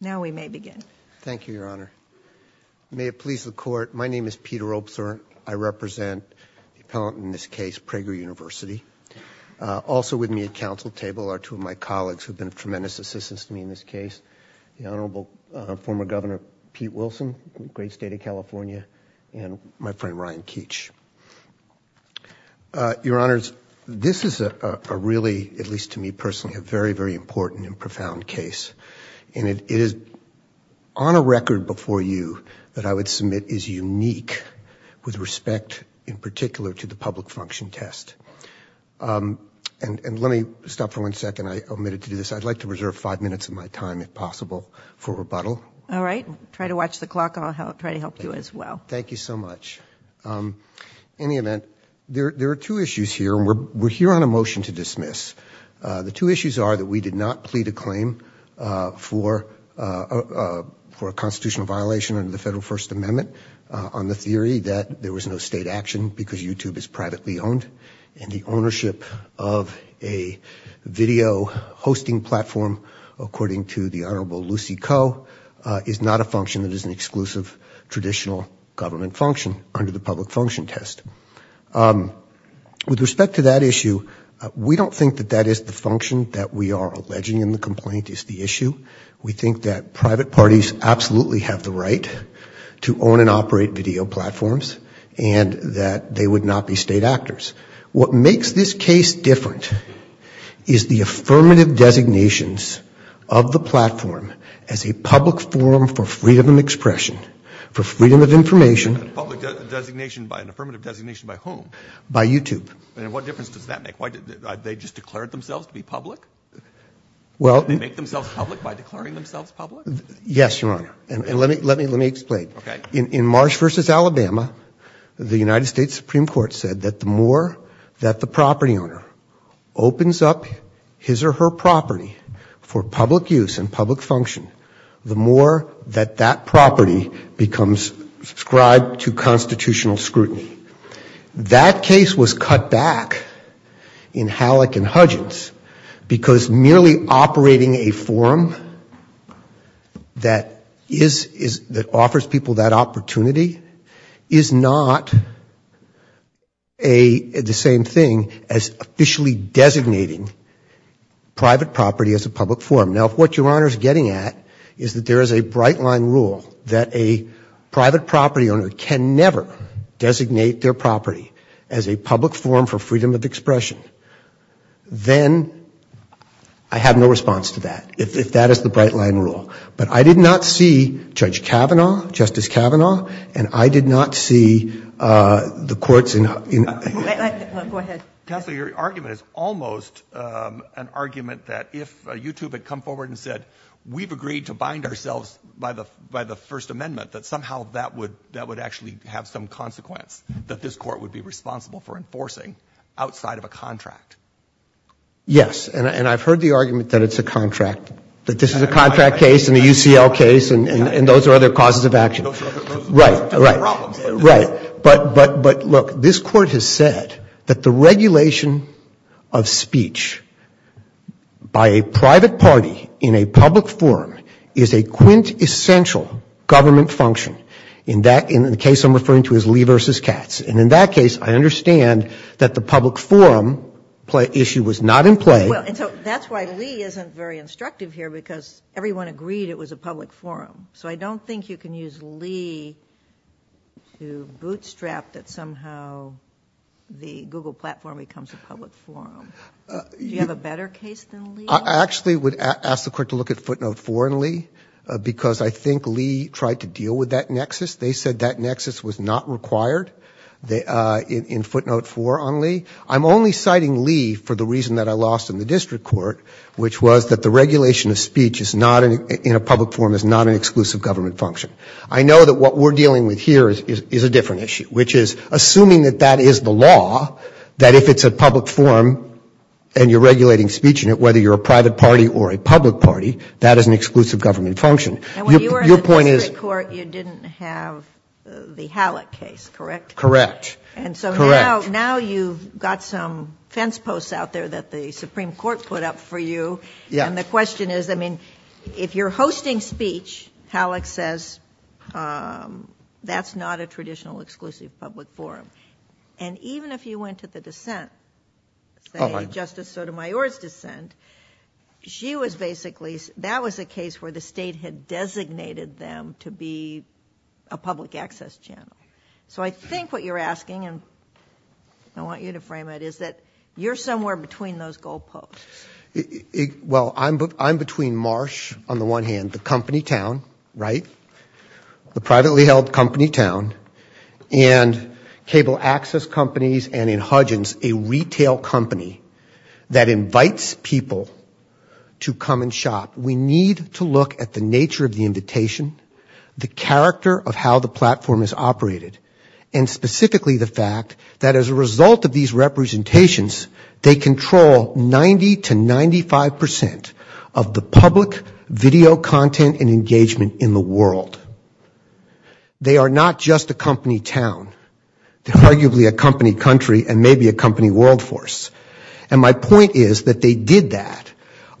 Now we may begin. Thank you, Your Honor. May it please the court, my name is Peter Opsor. I represent the appellant in this case, Prager University. Also with me at counsel table are two of my colleagues who've been tremendous assistance to me in this case, the Honorable former Governor Pete Wilson, great state of California, and my friend Ryan Keech. Your Honors, this is a really, at least to me is on a record before you that I would submit is unique with respect in particular to the public function test. And let me stop for one second. I omitted to do this. I'd like to reserve five minutes of my time if possible for rebuttal. All right, try to watch the clock. I'll try to help you as well. Thank you so much. In the event, there are two issues here. We're here on a motion to for a constitutional violation under the Federal First Amendment on the theory that there was no state action because YouTube is privately owned. And the ownership of a video hosting platform, according to the Honorable Lucy Koh, is not a function that is an exclusive traditional government function under the public function test. With respect to that issue, we don't think that that is the function that we are alleging in the complaint is the issue. We think that private parties absolutely have the right to own and operate video platforms and that they would not be state actors. What makes this case different is the affirmative designations of the platform as a public forum for freedom of expression, for freedom of information. Public designation by an affirmative designation by whom? By YouTube. And what difference does that make? Why did they just declare themselves to be public? Well, they make themselves public by declaring themselves public? Yes, Your Honor, and let me explain. In Marsh v. Alabama, the United States Supreme Court said that the more that the property owner opens up his or her property for public use and public function, the more that that property becomes subscribed to constitutional scrutiny. That case was cut back in Halleck and Hudgins because merely operating a forum that is, that offers people that opportunity, is not the same thing as officially designating private property as a public forum. Now what Your Honor is getting at is that there is a bright line rule that a public forum for freedom of expression, then I have no response to that, if that is the bright line rule. But I did not see Judge Kavanaugh, Justice Kavanaugh, and I did not see the courts in... Go ahead. Counselor, your argument is almost an argument that if YouTube had come forward and said, we've agreed to bind ourselves by the, by the First Amendment, that somehow that would, that would actually have some consequence, that this court would be responsible for enforcing outside of a contract. Yes, and I've heard the argument that it's a contract, that this is a contract case and a UCL case and those are other causes of action. Right, right, right. But, but, but look, this court has said that the regulation of speech by a private party in a public forum is a quintessential government function. In that, in the case I'm referring to is Lee versus Katz. And in that case, I understand that the public forum play issue was not in play. Well, and so that's why Lee isn't very instructive here because everyone agreed it was a public forum. So I don't think you can use Lee to bootstrap that somehow the Google platform becomes a public forum. Do you have a better case than Lee? I actually would ask the court to look at footnote four in Lee because I think Lee tried to deal with that nexus. They said that nexus was not required in footnote four on Lee. I'm only citing Lee for the reason that I lost in the district court, which was that the regulation of speech is not, in a public forum, is not an exclusive government function. I know that what we're dealing with here is, is a different issue, which is assuming that that is the law, that if it's a public forum and you're regulating speech in it, whether you're a private party or a public party, that is an exclusive government function. Your point is... And when you were in the district court, you didn't have the Hallock case, correct? Correct. Correct. And so now, now you've got some fence posts out there that the Supreme Court put up for you. Yeah. And the question is, I mean, if you're hosting speech, Hallock says that's not a traditional exclusive public forum. And even if you went to the dissent, say Justice Sotomayor's dissent, she was basically, that was a case where the state had designated them to be a public access channel. So I think what you're asking, and I want you to frame it, is that you're somewhere between those goal posts. Well, I'm, I'm between Marsh, on the one hand, the company town, right? The privately held company town, and cable access companies, and in Hudgins, a retail company that invites people to come and shop. We need to look at the nature of the invitation, the character of how the platform is operated, and specifically the fact that as a result of these representations, they control 90 to 95 percent of the public video content and engagement in the world. They are not just a company town. They're arguably a company country, and maybe a company world force. And my point is that they did that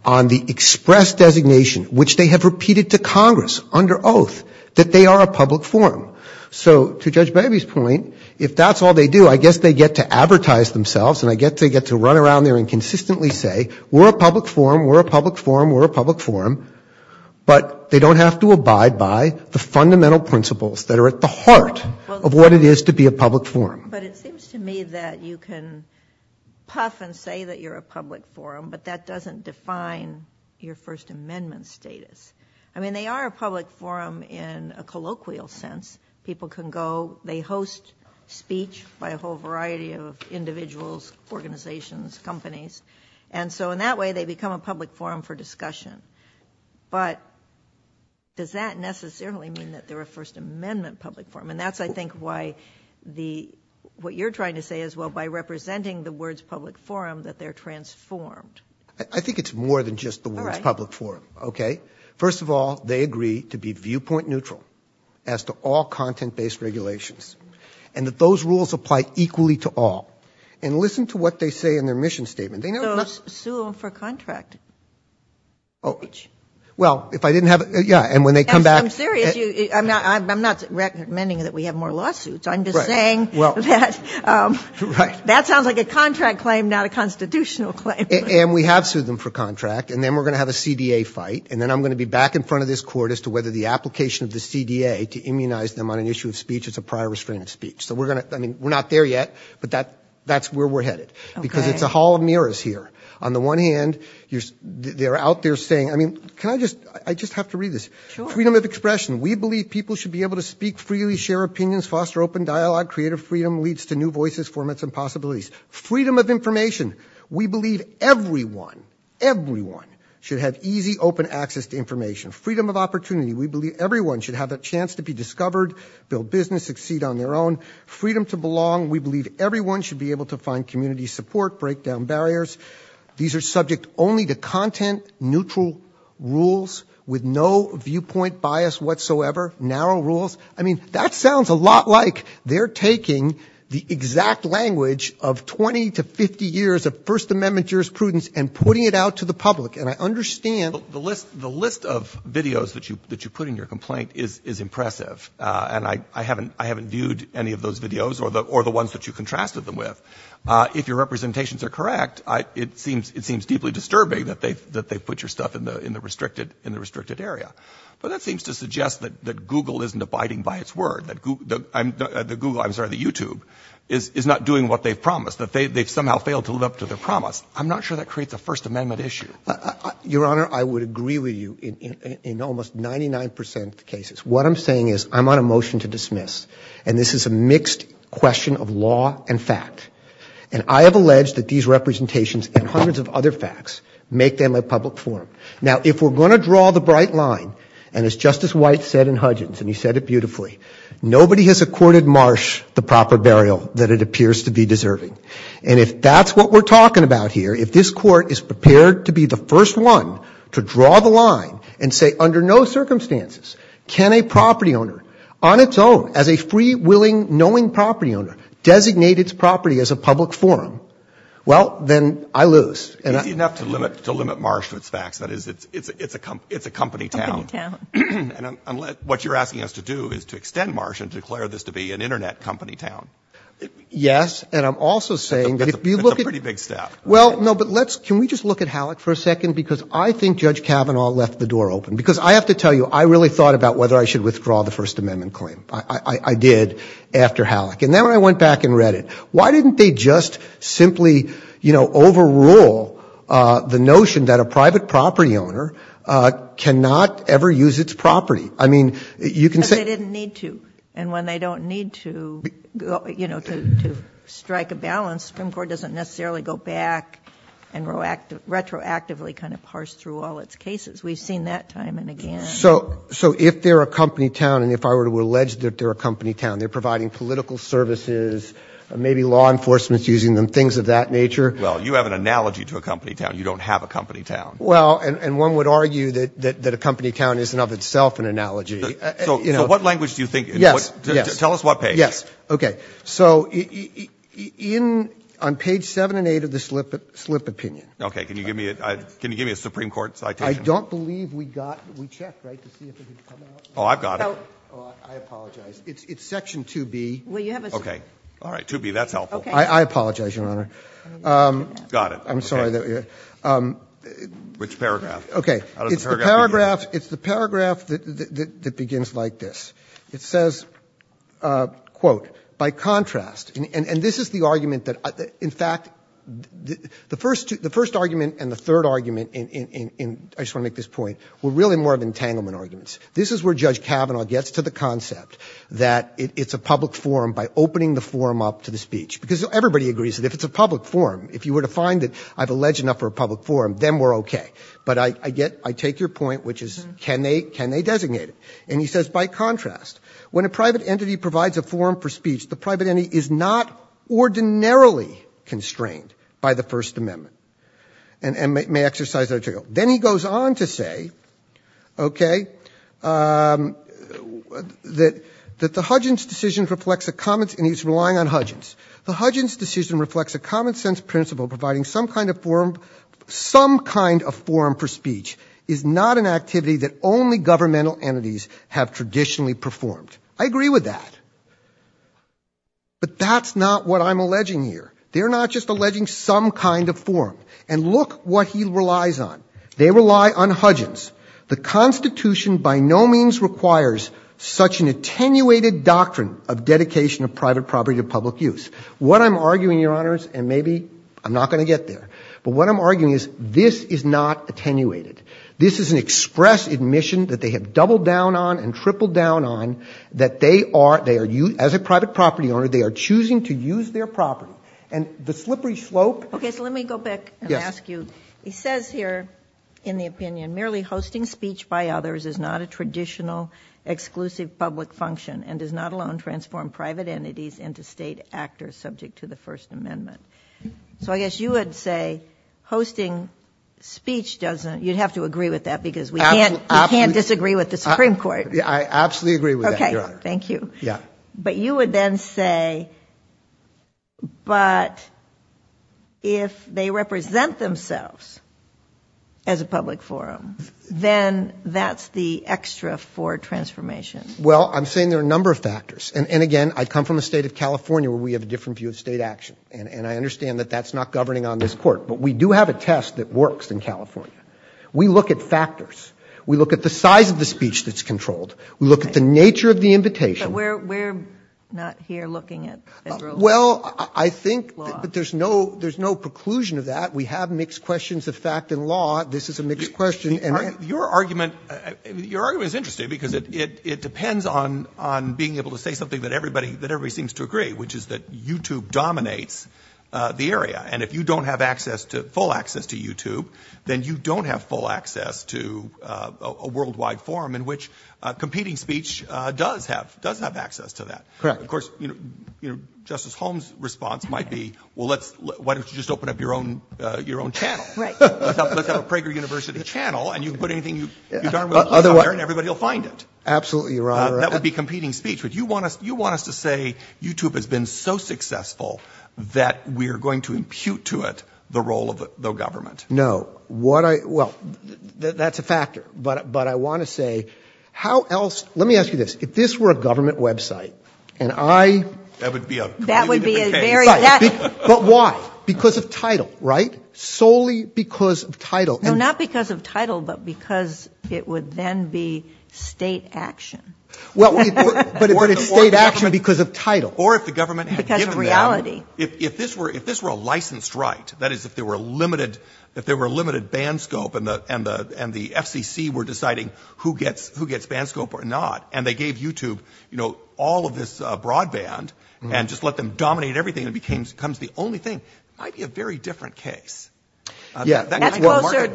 on the express designation, which they have repeated to Congress under oath, that they are a public forum. So to Judge Baby's point, if that's all they do, I guess they get to advertise themselves, and I guess they get to run around there and consistently say, we're a public forum, we're a public forum, we're a public forum, but they don't have to abide by the fundamental principles that are at the heart of what it is to be a public forum. But it seems to me that you can puff and say that you're a public forum, but that doesn't define your First Amendment status. I mean, they are a public forum in a colloquial sense. People can go, they host speech by a whole variety of individuals, organizations, companies, and so in that way, they become a public forum for discussion. But does that necessarily mean that they're a First Amendment public forum? And that's, I think, why the, what you're trying to say is, well, by representing the words public forum, that they're transformed. I think it's more than just the words public forum, okay? First of all, they agree to be viewpoint neutral as to all content-based regulations, and that those rules apply equally to all. And listen to what they say in their mission statement. So sue them for contract. Oh, well, if I didn't have, yeah, and when they come back. I'm serious, I'm not recommending that we have more lawsuits. I'm just saying that, that sounds like a contract claim, not a constitutional claim. And we have sued them for contract, and then we're going to have a CDA fight, and then I'm going to be back in front of this court as to whether the application of the CDA to immunize them on an issue of speech is a prior restraining speech. So we're going to, I mean, we're not there yet, but that's where we're headed. Because it's a hall of mirrors here. On the one hand, they're out there saying, I mean, can I just, I just have to read this. Freedom of expression. We believe people should be able to speak freely, share opinions, foster open dialogue, creative freedom leads to new voices, formats, and possibilities. Freedom of information. We believe everyone, everyone should have easy, open access to information. Freedom of opportunity. We believe everyone should have a chance to be discovered, build business, succeed on their own. Freedom to belong. We believe everyone should be able to find community support, break down barriers. These are subject only to content neutral rules with no viewpoint bias whatsoever. Narrow rules. I mean, that sounds a lot like they're taking the exact language of 20 to 50 years of First Amendment jurisprudence and putting it out to the public. And I understand the list, the list of videos that you, that you put in your complaint is, is impressive. And I, I haven't, I haven't viewed any of those videos or the, or the ones that you contrasted them with. If your representations are correct, it seems, it seems deeply disturbing that they've, that they've put your stuff in the, in the restricted, in the restricted area. But that seems to suggest that, that Google isn't abiding by its word. That Google, I'm, the Google, I'm sorry, the YouTube is, is not doing what they've promised. That they've somehow failed to live up to their promise. I'm not sure that creates a First Amendment issue. Your Honor, I would agree with you in, in, in almost 99 percent of the cases. What I'm saying is, I'm on a motion to dismiss. And this is a mixed question of law and fact. And I have alleged that these representations and hundreds of other facts make them a public forum. Now, if we're going to draw the bright line, and as Justice White said in Hudgins, and he said it beautifully, nobody has accorded Marsh the proper burial that it appears to be deserving. And if that's what we're talking about here, if this Court is prepared to be the first one to draw the line and say, under no circumstances, can a property owner, on its own, as a free, willing, knowing property owner, designate its property as a public forum, well, then I lose. Easy enough to limit, to limit Marsh to its facts. That is, it's, it's, it's a company, it's a company town. Company town. And unless, what you're asking us to do is to extend Marsh and declare this to be an Internet company town. Yes. And I'm also saying that if you look at It's a pretty big step. Well, no, but let's, can we just look at Halleck for a second? Because I think Judge Kavanaugh left the door open. Because I have to tell you, I really thought about whether I should withdraw the First Amendment claim. I, I, I did, after Halleck. And then when I went back and read it, why didn't they just simply, you know, overrule the notion that a private property owner cannot ever use its property? I mean, you can say Because they didn't need to. And when they don't need to, you know, to, to strike a balance, the Supreme Court doesn't necessarily go back and retroactively kind of parse through all its cases. We've seen that time and again. So, so if they're a company town, and if I were to allege that they're a company town, they're providing political services, maybe law enforcement's using them, things of that nature. Well, you have an analogy to a company town. You don't have a company town. Well, and, and one would argue that, that, that a company town isn't of itself an analogy. So, so what language do you think it is? Yes, yes. Tell us what page. Yes. Okay. So, in, on page 7 and 8 of the slip, slip opinion. Okay. Can you give me a, can you give me a Supreme Court citation? I don't believe we got, we checked, right, to see if it had come out. Oh, I've got it. Oh, I apologize. It's, it's section 2B. Well, you have a Okay. All right. 2B, that's helpful. I, I apologize, Your Honor. Got it. I'm sorry that we're Which paragraph? Okay. It's the paragraph, it's the paragraph that, that, that begins like this. It says, quote, by contrast, and, and, and this is the argument that, in fact, the, the first, the first argument and the third argument in, in, in, in, I just want to make this point, were really more of entanglement arguments. This is where Judge Kavanaugh gets to the concept that it, it's a public forum by opening the forum up to the speech. Because everybody agrees that if it's a public forum, if you were to find that I've alleged enough for a public forum, then we're okay. But I, I get, I take your point, which is can they, can they designate it? And he says, by contrast, when a private entity provides a forum for speech, the private entity is not ordinarily constrained by the First Amendment, and, and may, may exercise that article. Then he goes on to say, okay, that, that the Hudgens decision reflects a common, and he's relying on Hudgens. The Hudgens decision reflects a common sense principle providing some kind of forum, some kind of forum for speech is not an activity that only governmental entities have traditionally performed. I agree with that. But that's not what I'm alleging here. They're not just alleging some kind of forum. And look what he relies on. They rely on Hudgens. The Constitution by no means requires such an attenuated doctrine of dedication of private property to public use. What I'm arguing, Your Honors, and maybe I'm not going to get there, but what I'm arguing is this is not attenuated. This is an express admission that they have doubled down on and tripled down on that they are, they are, as a private property owner, they are choosing to use their property. And the slippery slope. Okay, so let me go back and ask you. He says here in the opinion merely hosting speech by others is not a traditional exclusive public function and does not alone transform private entities into state actors subject to the First Amendment. So I guess you would say hosting speech doesn't, you'd have to agree with that because we can't, we can't disagree with the Supreme Court. I absolutely agree with that, Your Honor. Thank you. Yeah. But you would then say, but if they represent themselves as a public forum, then that's the extra for transformation. Well, I'm saying there are a number of factors. And again, I come from the state of California where we have a different view of state action. And I understand that that's not governing on this court, but we do have a test that works in California. We look at factors. We look at the size of the speech that's controlled. We look at the nature of the invitation. But we're not here looking at federal law. Well, I think that there's no, there's no preclusion of that. We have mixed questions of fact and law. This is a mixed question. Your argument, your argument is interesting because it depends on being able to say something that everybody, that everybody seems to agree, which is that YouTube dominates the area. And if you don't have access to, full access to YouTube, then you don't have full access to a worldwide forum in which competing speech does have, does have access to that. Correct. Of course, you know, Justice Holmes' response might be, well, let's, why don't you just open up your own, your own channel? Right. Let's have a Prager University channel and you can put anything you darn well desire and everybody will find it. Absolutely, Your Honor. That would be competing speech. But you want us, you want us to say YouTube has been so successful that we're going to impute to it the role of the government. No. What I, well, that's a factor. But, but I want to say, how else, let me ask you this. If this were a government website and I. That would be a. That would be a very. But why? Because of title, right? Solely because of title. No, not because of title, but because it would then be state action. Well, but it's state action because of title. Or if the government. Because of reality. If, if this were, if this were a licensed right, that is, if there were limited, if there were limited band scope and the, and the, and the FCC were deciding who gets, who gets band scope or not. And they gave YouTube, you know, all of this broadband and just let them dominate everything. It became, becomes the only thing. Might be a very different case. Yeah. That's closer to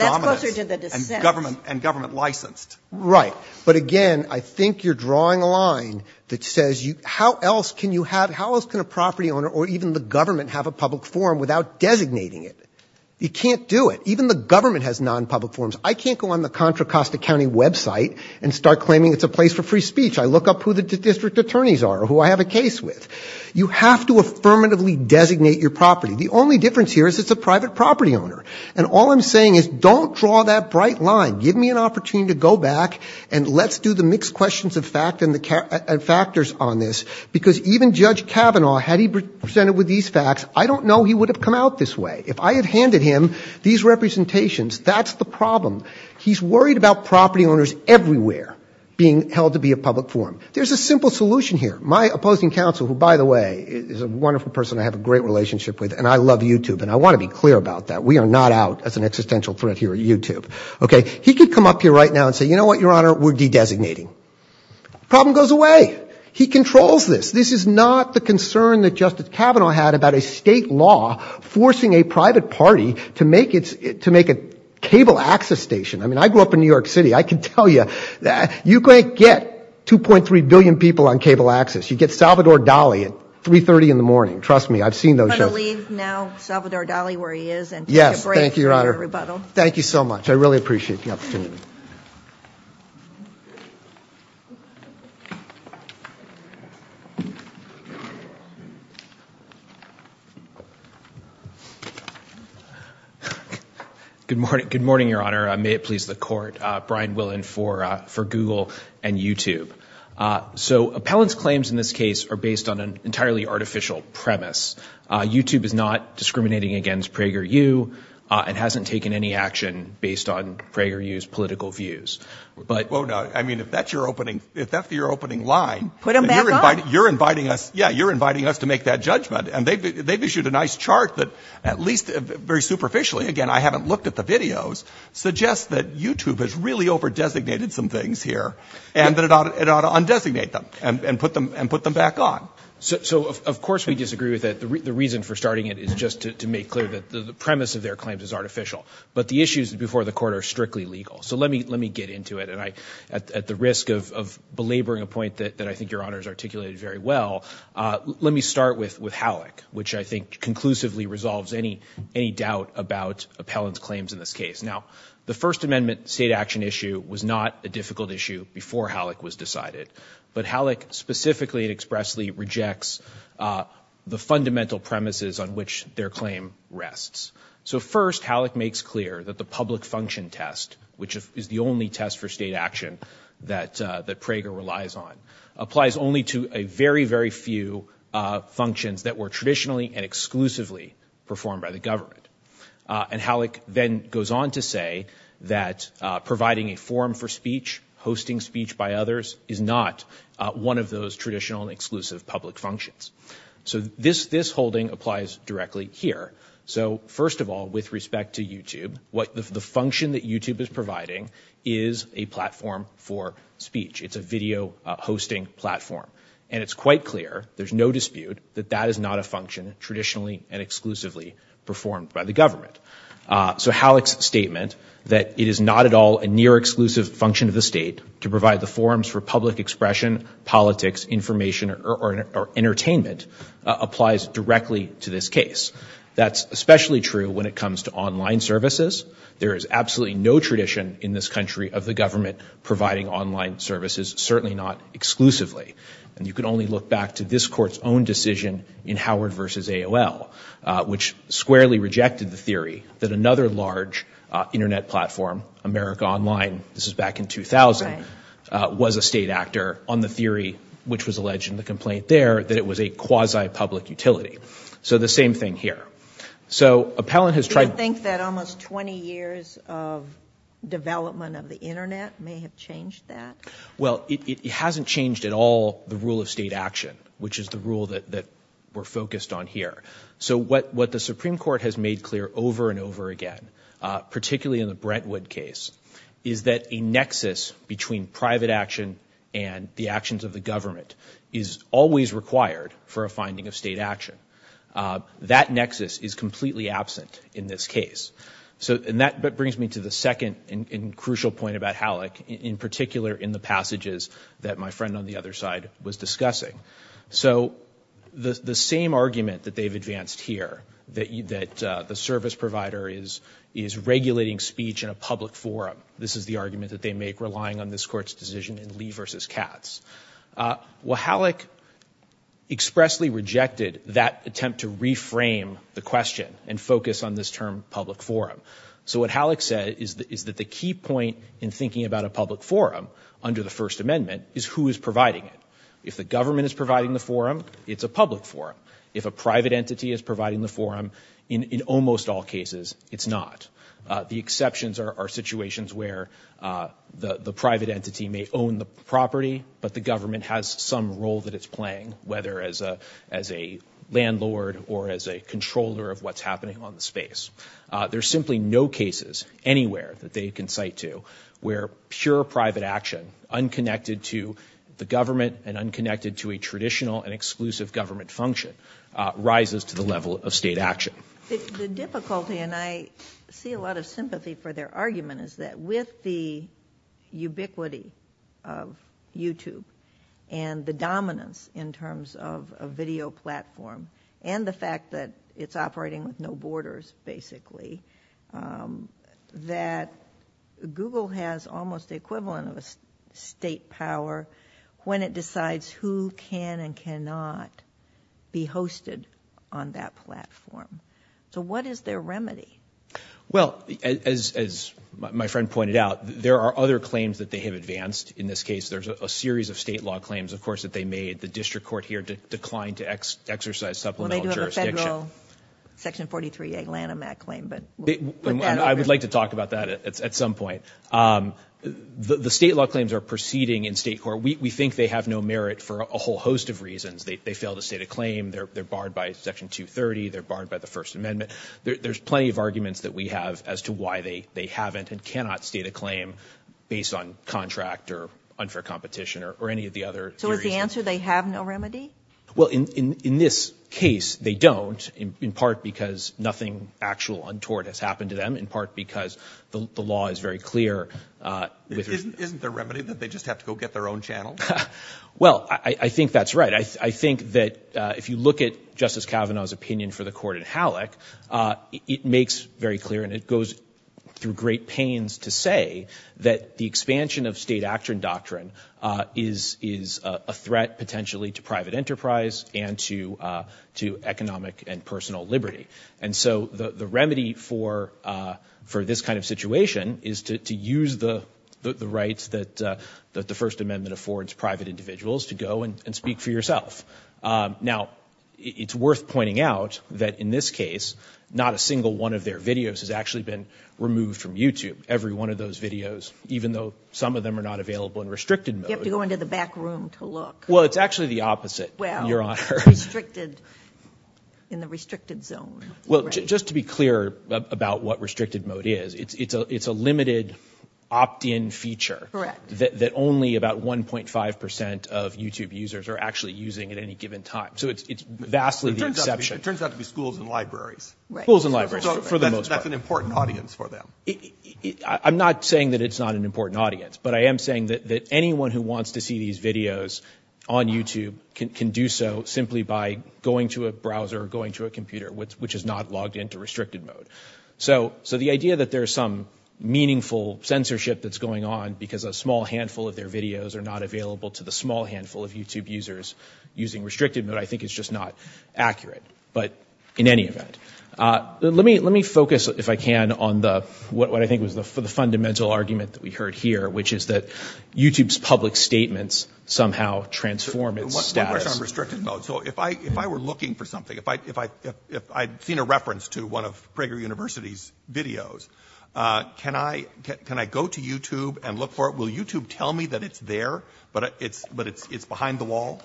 the government and government licensed. Right. But again, I think you're drawing a line that says you, how else can you have, how else can a property owner or even the government have a public forum without designating it? You can't do it. Even the government has non-public forms. I can't go on the Contra Costa County website and start claiming it's a place for free speech. I look up who the district attorneys are, who I have a case with. You have to affirmatively designate your property. The only difference here is it's a private property owner. And all I'm saying is don't draw that bright line. Give me an opportunity to go back and let's do the mixed questions of fact and the factors on this, because even Judge Kavanaugh, had he presented with these facts, I don't know he would have come out this way. If I had handed him these representations, that's the problem. He's worried about property owners everywhere being held to be a public forum. There's a simple solution here. My opposing counsel, who, by the way, is a wonderful person I have a great relationship with and I love YouTube and I want to be clear about that. We are not out as an existential threat here at YouTube. He could come up here right now and say, you know what, Your Honor, we're de-designating. Problem goes away. He controls this. This is not the concern that Justice Kavanaugh had about a state law forcing a private party to make a cable access station. I mean, I grew up in New York City. I can tell you that you can't get 2.3 billion people on cable access. You get Salvador Dali at 3.30 in the morning. Trust me. I've seen those. I'm going to leave now Salvador Dali where he is and take a break from your rebuttal. Thank you so much. I really appreciate the opportunity. Good morning. Good morning, Your Honor. May it please the court. Brian Willen for Google and YouTube. So appellant's claims in this case are based on an entirely artificial premise. YouTube is not discriminating against PragerU and hasn't taken any action based on PragerU's political views. But I mean, if that's your opening, if that's your opening line, you're inviting us. Yeah, you're inviting us to make that judgment. And they've issued a nice chart that at least very superficially, again, I haven't looked at the videos, suggests that YouTube has really over-designated some things here and that it ought to undesignate them and put them back on. So of course we disagree with it. The reason for starting it is just to make clear that the premise of their claims is artificial. But the issues before the court are strictly legal. So let me get into it. And at the risk of belaboring a point that I think Your Honor has articulated very well, let me start with Halleck, which I think conclusively resolves any doubt about appellant's claims in this case. Now, the First Amendment state action issue was not a difficult issue before Halleck was decided. But Halleck specifically and expressly rejects the fundamental premises on which their claim rests. So first, Halleck makes clear that the public function test, which is the only test for state action that Prager relies on, applies only to a very, very few functions that were traditionally and exclusively performed by the government. And Halleck then goes on to say that providing a forum for speech, hosting speech by others, is not one of those traditional and exclusive public functions. So this holding applies directly here. So first of all, with respect to YouTube, the function that YouTube is providing is a platform for speech. It's a video hosting platform. And it's quite clear, there's no dispute, that that is not a function traditionally and exclusively performed by the government. So Halleck's statement that it is not at all a near-exclusive function of the state to provide the forums for public expression, politics, information, or entertainment applies directly to this case. That's especially true when it comes to online services. There is absolutely no tradition in this country of the government providing online services, certainly not exclusively. And you can only look back to this court's own decision in Howard v. AOL, which squarely rejected the theory that another large internet platform, America Online, this is back in 2000, was a state actor, on the theory which was alleged in the complaint there, that it was a quasi-public utility. So the same thing here. So Appellant has tried— Do you think that almost 20 years of development of the internet may have changed that? Well, it hasn't changed at all the rule of state action, which is the rule that we're focused on here. So what the Supreme Court has made clear over and over again, particularly in the Brentwood case, is that a nexus between private action and the actions of the government is always required for a finding of state action. That nexus is completely absent in this case. And that brings me to the second and crucial point about Halleck, in particular in the passages that my friend on the other side was discussing. So the same argument that they've advanced here, that the service provider is regulating speech in a public forum, this is the argument that they make relying on this court's decision in Lee v. Katz. Well, Halleck expressly rejected that attempt to reframe the question and focus on this term public forum. So what Halleck said is that the key point in thinking about a public forum under the First Amendment is who is providing it. If the government is providing the forum, it's a public forum. If a private entity is providing the forum, in almost all cases, it's not. The exceptions are situations where the private entity may own the property, but the government has some role that it's playing, whether as a landlord or as a controller of what's happening on the space. There's simply no cases anywhere that they can cite to where pure private action, unconnected to the government and unconnected to a traditional and exclusive government function, rises to the level of state action. The difficulty, and I see a lot of sympathy for their argument, is that with the ubiquity of YouTube and the dominance in terms of a video platform and the fact that it's operating with no borders, basically, that Google has almost the equivalent of a state power when it decides who can and cannot be hosted on that platform. So what is their remedy? Well, as my friend pointed out, there are other claims that they have advanced. In this case, there's a series of state law claims, of course, that they made. The district court here declined to exercise supplemental jurisdiction. Well, they do have a federal Section 43 Atlanta MAT claim. I would like to talk about that at some point. The state law claims are proceeding in state court. We think they have no merit for a whole host of reasons. They fail to state a claim. They're barred by Section 230. They're barred by the First Amendment. There's plenty of arguments that we have as to why they haven't and cannot state a claim based on contract or unfair competition or any of the other theories. So is the answer they have no remedy? Well, in this case, they don't, in part because nothing actual untoward has happened to them, in part because the law is very clear. Isn't there a remedy that they just have to go get their own channel? Well, I think that's right. I think that if you look at Justice Kavanaugh's opinion for the court in Halleck, it makes very clear and it goes through great pains to say that the expansion of state action doctrine is a threat potentially to private enterprise and to economic and personal liberty. And so the remedy for this kind of situation is to use the rights that the First Amendment affords private individuals to go and speak for yourself. Now, it's worth pointing out that in this case, not a single one of their videos has actually been removed from YouTube, every one of those videos, even though some of them are not available in restricted mode. You have to go into the back room to look. Well, it's actually the opposite, Your Honor. Well, in the restricted zone. Well, just to be clear about what restricted mode is, it's a limited opt-in feature that only about 1.5 percent of YouTube users are actually using at any given time. So it's vastly the exception. It turns out to be schools and libraries. Schools and libraries for the most part. That's an important audience for them. I'm not saying that it's not an important audience, but I am saying that anyone who wants to see these videos on YouTube can do so simply by going to a browser or going to a computer, which is not logged into restricted mode. So the idea that there's some meaningful censorship that's going on because a small handful of their videos are not available to the small handful of YouTube users using restricted mode I think is just not accurate. But in any event. Let me focus, if I can, on what I think was the fundamental argument that we heard here, which is that YouTube's public statements somehow transform its status. One question on restricted mode. So if I were looking for something, if I'd seen a reference to one of Prager University's videos, can I go to YouTube and look for it? Will YouTube tell me that it's there, but it's behind the wall?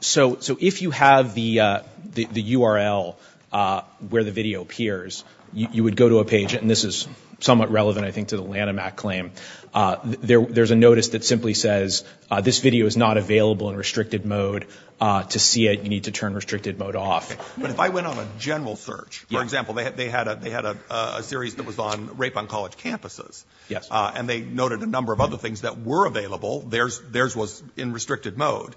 So if you have the URL where the video appears, you would go to a page, and this is somewhat relevant I think to the Lanham Act claim, there's a notice that simply says, this video is not available in restricted mode. To see it, you need to turn restricted mode off. But if I went on a general search, for example, they had a series that was on rape on college campuses, and they noted a number of other things that were available, theirs was in restricted mode.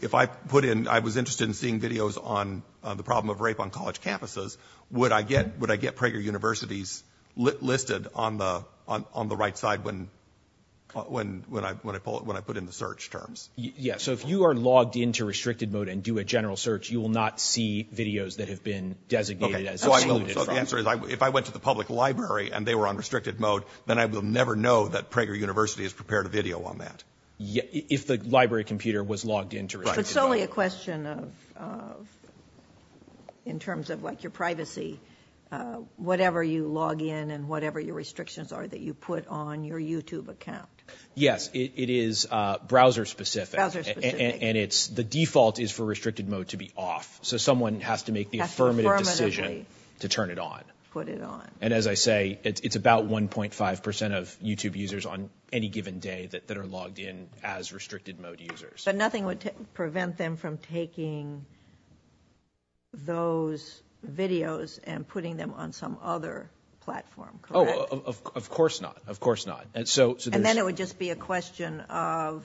If I put in, I was interested in seeing videos on the problem of rape on college campuses, would I get Prager University's listed on the right side when I put in the search terms? Yeah, so if you are logged into restricted mode and do a general search, you will not see videos that have been designated as excluded. So the answer is, if I went to the public library, and they were on restricted mode, then I will never know that Prager University has prepared a video on that. If the library computer was logged into restricted mode. Right. But it's only a question of, in terms of like your privacy, whatever you log in and whatever your restrictions are that you put on your YouTube account. Yes, it is browser specific. Browser specific. And the default is for restricted mode to be off. So someone has to make the affirmative decision to turn it on. And as I say, it's about 1.5% of YouTube users on any given day that are logged in as restricted mode users. But nothing would prevent them from taking those videos and putting them on some other platform. Correct? Oh, of course not. Of course not. And then it would just be a question of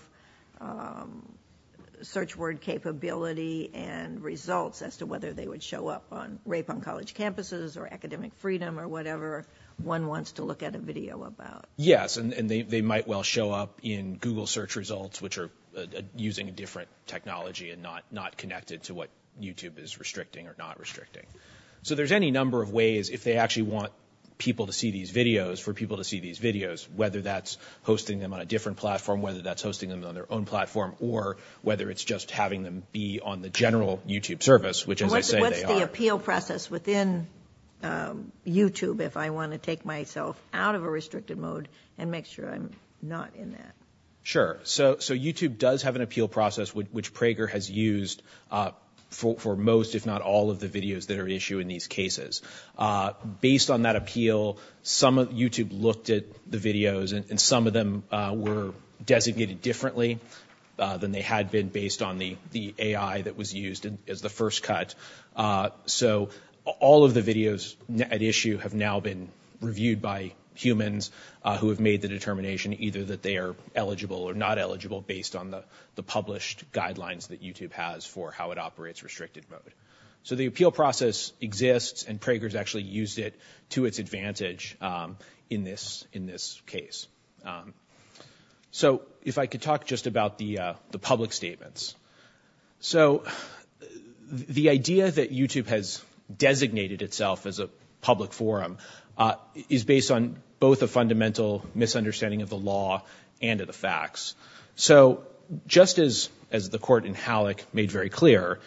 search word capability and results as to whether they would show up on rape on college campuses or academic freedom or whatever one wants to look at a video about. Yes, and they might well show up in Google search results which are using a different technology and not connected to what YouTube is restricting or not restricting. So there's any number of ways if they actually want people to see these videos for people to see these videos whether that's hosting them on a different platform whether that's hosting them on their own platform or whether it's just having them be on the general YouTube service What's the appeal process within YouTube if I want to take myself out of a restricted mode and make sure I'm not in that? Sure. So YouTube does have an appeal process which Prager has used for most if not all of the videos that are issued in these cases. Based on that appeal YouTube looked at the videos and some of them were designated differently than they had been based on the AI that was used as the first cut so all of the videos at issue have now been reviewed by humans who have made the determination either that they are eligible or not eligible based on the published guidelines that YouTube has for how it operates restricted mode. So the appeal process exists and Prager's actually used it to its advantage in this case. So if I could talk just about the public statements So the idea that YouTube has designated itself as a public forum is based on both a fundamental misunderstanding of the law and of the facts so just as the court in Halleck made very clear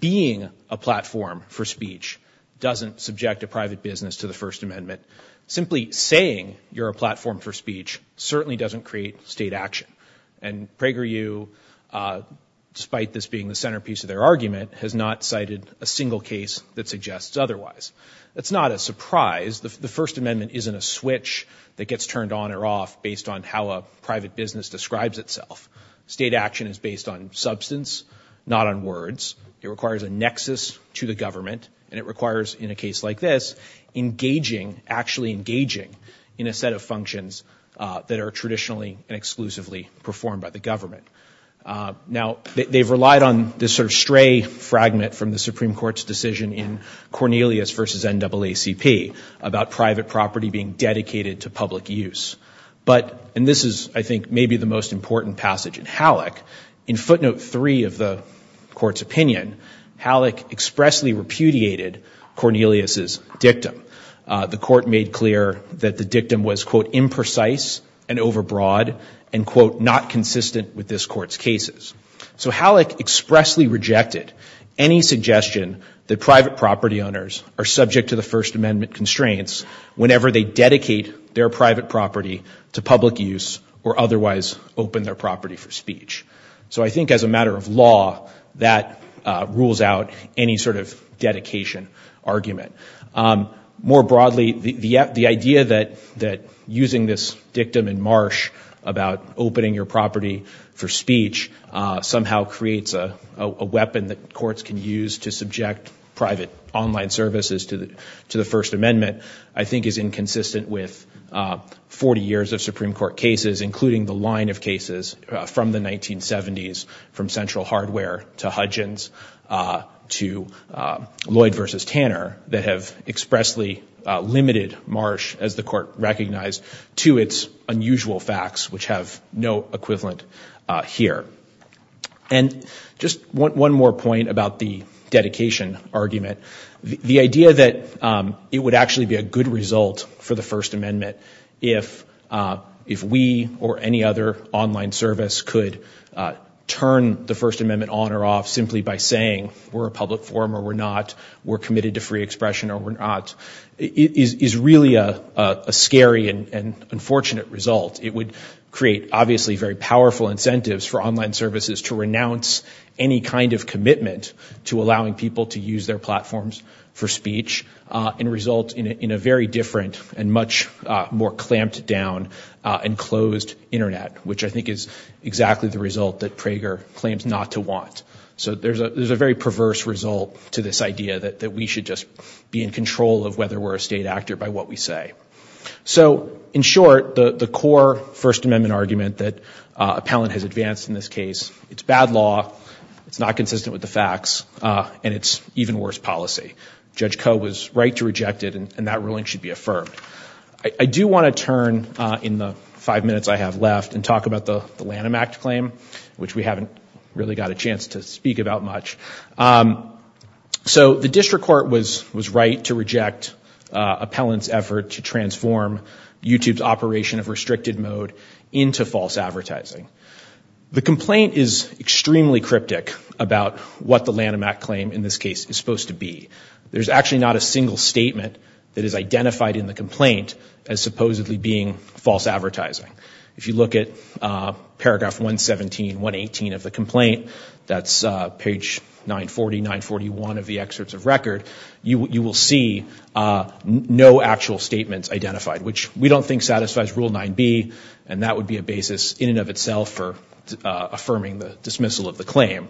being a platform for speech doesn't subject a private business to the first amendment simply saying you're a platform for speech certainly doesn't create state action and PragerU despite this being the centerpiece of their argument has not cited a single case that suggests otherwise it's not a surprise the first amendment isn't a switch that gets turned on or off based on how a private business describes itself state action is based on substance not on words it requires a nexus to the government and it requires in a case like this engaging, actually engaging in a set of functions that are traditionally and exclusively performed by the government now they've relied on this sort of stray fragment from the Supreme Court's decision in Cornelius v. NAACP about private property being dedicated to public use but and this is I think maybe the most important passage in Halleck in footnote 3 of the court's opinion Halleck expressly repudiated Cornelius' dictum the court made clear that the dictum was quote imprecise and overbroad and quote not consistent with this court's cases so Halleck expressly rejected any suggestion that private property owners are subject to the first amendment constraints whenever they dedicate their private property to public use or otherwise open their property for speech so I think as a matter of law that rules out any sort of dedication argument more broadly the idea that using this dictum in Marsh about opening your property for speech somehow creates a weapon that courts can use to subject private online services to the first amendment I think is inconsistent with 40 years of Supreme Court cases including the line of cases from the 1970s from Central Hardware to Hudgens to Lloyd v. Tanner that have expressly limited Marsh as the court recognized to its unusual facts which have no equivalent here and just one more point about the dedication argument the idea that it would actually be a good result for the first amendment if we or any other online service could turn the first amendment on or off simply by saying we're a public forum or we're not we're committed to free expression or we're not is really a scary and unfortunate result it would create obviously very powerful incentives for online services to renounce any kind of commitment to allowing people to use their platforms for speech and result in a very different and much more clamped down and closed internet which I think is exactly the result that Prager claims not to want so there's a very perverse result to this idea that we should just be in control of whether we're a state actor by what we say so in short the core first amendment argument that Appellant has advanced in this case it's bad law, it's not consistent with the facts, and it's even worse policy. Judge Coe was right to reject it and that ruling should be affirmed. I do want to turn in the five minutes I have left and talk about the Lanham Act claim which we haven't really got a chance to speak about much so the district court was right to reject Appellant's effort to transform YouTube's operation of restricted mode into false advertising the complaint is extremely cryptic about what the Lanham Act claim in this case is supposed to be. There's actually not a single statement that is identified in the complaint as supposedly being false advertising. If you look at paragraph 117 118 of the complaint that's page 940 941 of the excerpts of record you will see no actual statements identified which we don't think satisfies Rule 9b and that would be a basis in and of itself for affirming the dismissal of the claim.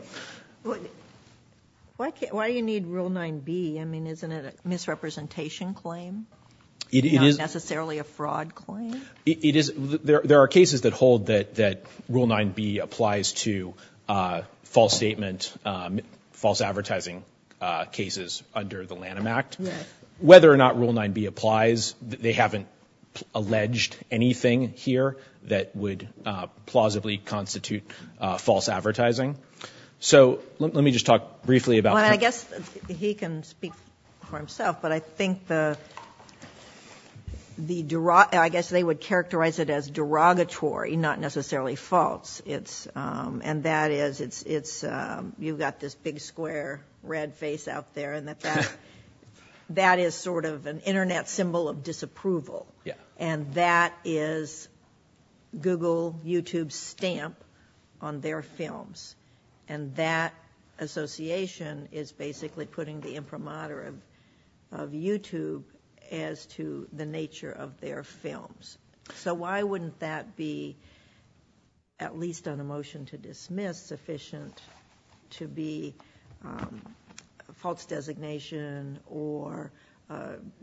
Why do you need Rule 9b? I mean isn't it a misrepresentation claim? Not necessarily a fraud claim? There are cases that hold that Rule 9b applies to false statement false advertising cases under the Lanham Act. Whether or not Rule 9b applies they haven't alleged anything here that would plausibly constitute false advertising. Let me just talk briefly about I guess he can speak for himself but I think the I guess they would characterize it as derogatory not necessarily false and that is you've got this big square red face out there and that that is sort of an internet symbol of disapproval and that is Google, YouTube stamp on their films and that association is basically putting the imprimatur of YouTube as to the nature of their films. So why wouldn't that be at least on a motion to dismiss sufficient to be false designation or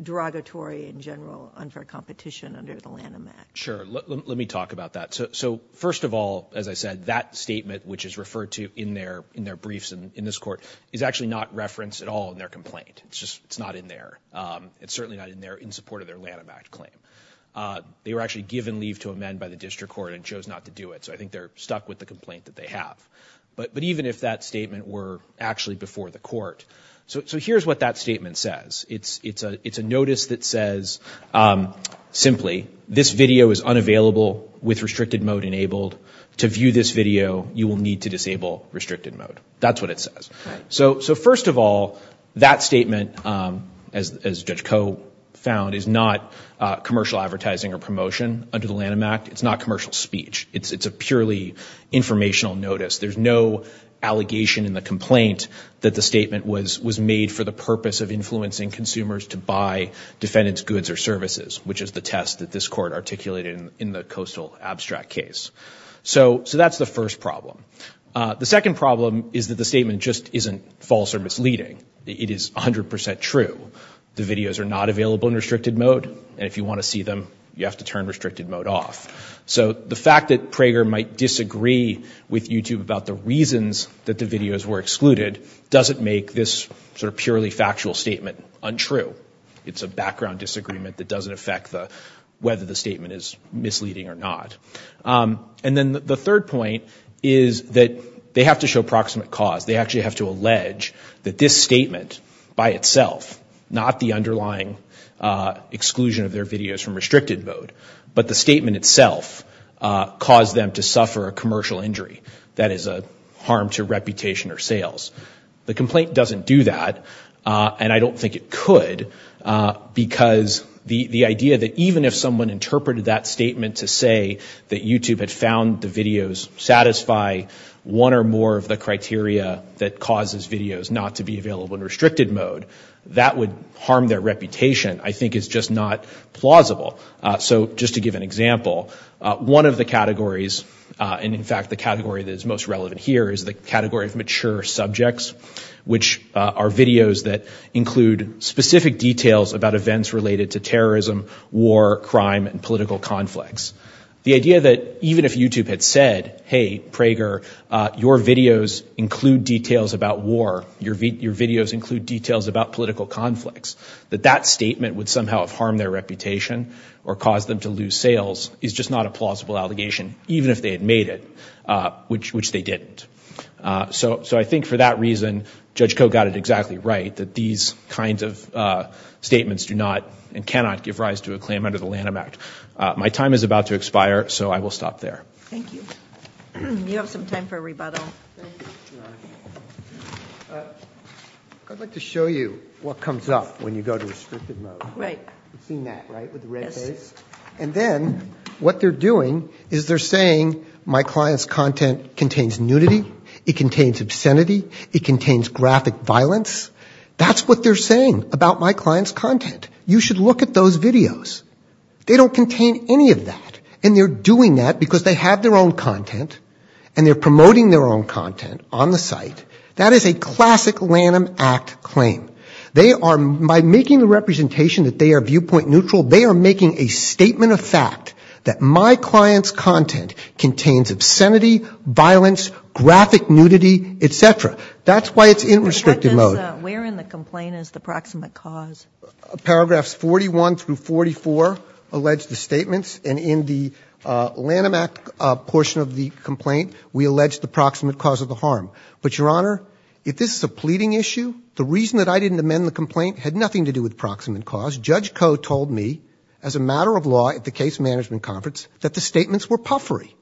derogatory in general unfair competition under the Lanham Act? Sure. Let me talk about that. So first of all as I said that statement which is referred to in their briefs in this court is actually not referenced at all in their complaint. It's just not in there. It's certainly not in there in support of their Lanham Act claim. They were actually given leave to amend by the district court and chose not to do it so I think they're stuck with the complaint that they have. But even if that statement were actually before the court. So here's what that statement says. It's a notice that says simply this video is unavailable with restricted mode enabled to view this video you will need to disable restricted mode. That's what it says. So first of all that statement as Judge Koh found is not commercial advertising or promotion under the Lanham Act. It's not commercial speech. It's a purely informational notice. There's no allegation in the complaint that the statement was made for the purpose of influencing consumers to buy defendant's goods or services which is the test that this court articulated in the coastal abstract case. So that's the first problem. The second problem is that the statement just isn't false or misleading. It is 100% true. The videos are not available in restricted mode and if you want to see them you have to turn restricted mode off. So the fact that Prager might disagree with YouTube about the reasons that the videos were excluded doesn't make this sort of purely factual statement untrue. It's a background disagreement that doesn't affect whether the statement is misleading or not. And then the third point is that they have to show proximate cause. They actually have to allege that this statement by itself, not the underlying exclusion of their videos from restricted mode, but the statement itself caused them to suffer a commercial injury that is a harm to reputation or sales. The complaint doesn't do that and I don't think it could because the idea that even if someone interpreted that statement to say that YouTube had found the videos satisfy one or more of the criteria that causes videos not to be available in restricted mode, that would harm their reputation I think is just not plausible. So just to give an example, one of the categories, and in fact the category that is most relevant here is the category of mature subjects which are videos that include specific details about events related to terrorism, war, crime, and political conflicts. The idea that even if YouTube had said, hey Prager, your videos include details about war, your videos include details about political conflicts, that that statement would somehow have harmed their reputation or caused them to lose sales is just not a plausible allegation, even if they had made it, which they didn't. So I think for that reason, Judge Koh got it exactly right, that these kinds of statements do not and cannot give rise to a claim under the Lanham Act. My time is about to expire, so I will stop there. Thank you. You have some time for rebuttal. I'd like to show you what comes up when you go to restricted mode. You've seen that, right, with the red face? And then, what they're doing is they're saying, my client's content contains nudity, it contains obscenity, it contains graphic violence. That's what they're saying about my client's content. You should look at those videos. They don't contain any of that. And they're doing that because they have their own content, and they're promoting their own content on the site. That is a classic Lanham Act claim. They are, by making the representation that they are viewpoint neutral, they are making a statement of fact that my client's content contains obscenity, violence, graphic nudity, et cetera. That's why it's in restricted mode. Where in the complaint is the proximate cause? Paragraphs 41 through 44 allege the statements, and in the Lanham Act portion of the complaint, we allege the proximate cause of the harm. But, Your Honor, if this is a pleading issue, the reason that I didn't amend the complaint had nothing to do with proximate cause. Judge Koh told me, as a matter of law at the case management conference, that the statements were puffery.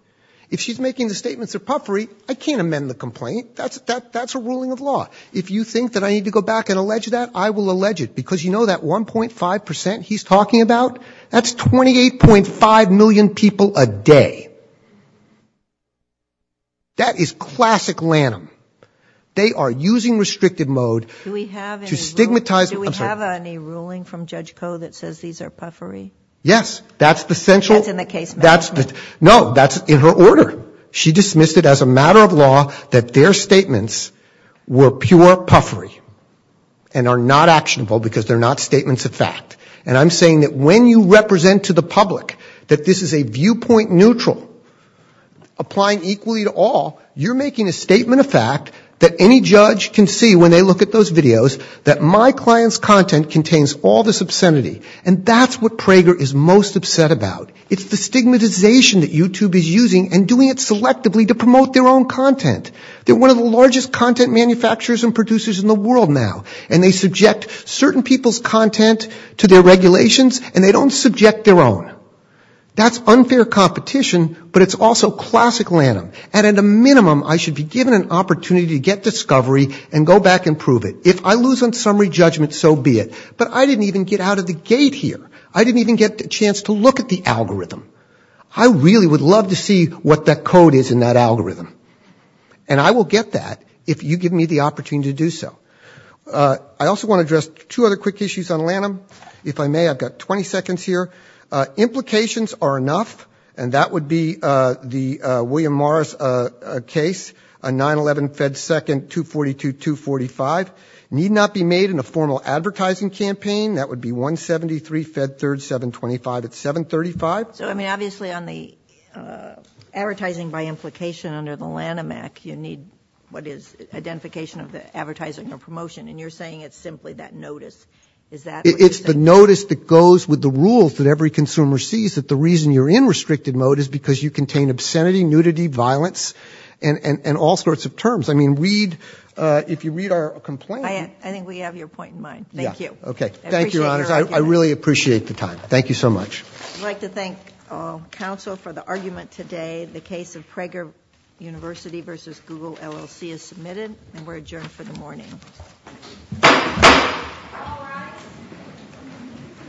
If she's making the statements are puffery, I can't amend the complaint. That's a ruling of law. If you think that I need to go back and allege that, I will allege it, because you know that 1.5 percent he's talking about, that's 28.5 million people a day. That is classic Lanham. They are using restrictive mode to stigmatize... Do we have any ruling from Judge Koh that says these are puffery? Yes, that's the central... That's in the case management... No, that's in her order. She dismissed it as a matter of law that their statements were pure puffery and are not actionable because they're not statements of fact. I'm saying that when you represent to the public that this is a viewpoint neutral, applying equally to all, you're making a statement of fact that any judge can see when they look at those videos that my client's content contains all this obscenity. That's what Prager is most upset about. It's the stigmatization that YouTube is using and doing it selectively to promote their own content. They're one of the largest content manufacturers and producers in the world now, and they subject certain people's content to their regulations and they don't subject their own. That's unfair competition, but it's also classic Lanham. And at a minimum, I should be given an opportunity to get discovery and go back and prove it. If I lose on summary judgment, so be it. But I didn't even get out of the gate here. I didn't even get the chance to look at the algorithm. I really would love to see what that code is in that algorithm. And I will get that if you give me the opportunity to do so. I also want to address two other quick issues on Lanham. If I may, I've got 20 seconds here. Implications are enough, and that would be the William Morris case, a 9-11 Fed Second 242-245. Need not be made in a formal advertising campaign. That would be 173 Fed Third 725 at 735. So, I mean, obviously on the advertising by implication under the Lanham Act, you need what is identification of the advertising or promotion, and you're saying it's simply that notice. Is that what you're saying? It's the notice that goes with the rules that every consumer sees, that the reason you're in restricted mode is because you contain obscenity, nudity, violence, and all sorts of terms. I mean, read if you read our complaint. I think we have your point in mind. Thank you. Thank you, Your Honors. I really appreciate the time. Thank you so much. I'd like to thank counsel for the argument today. The case of Prager University v. Google LLC is submitted, and we're adjourned for the morning.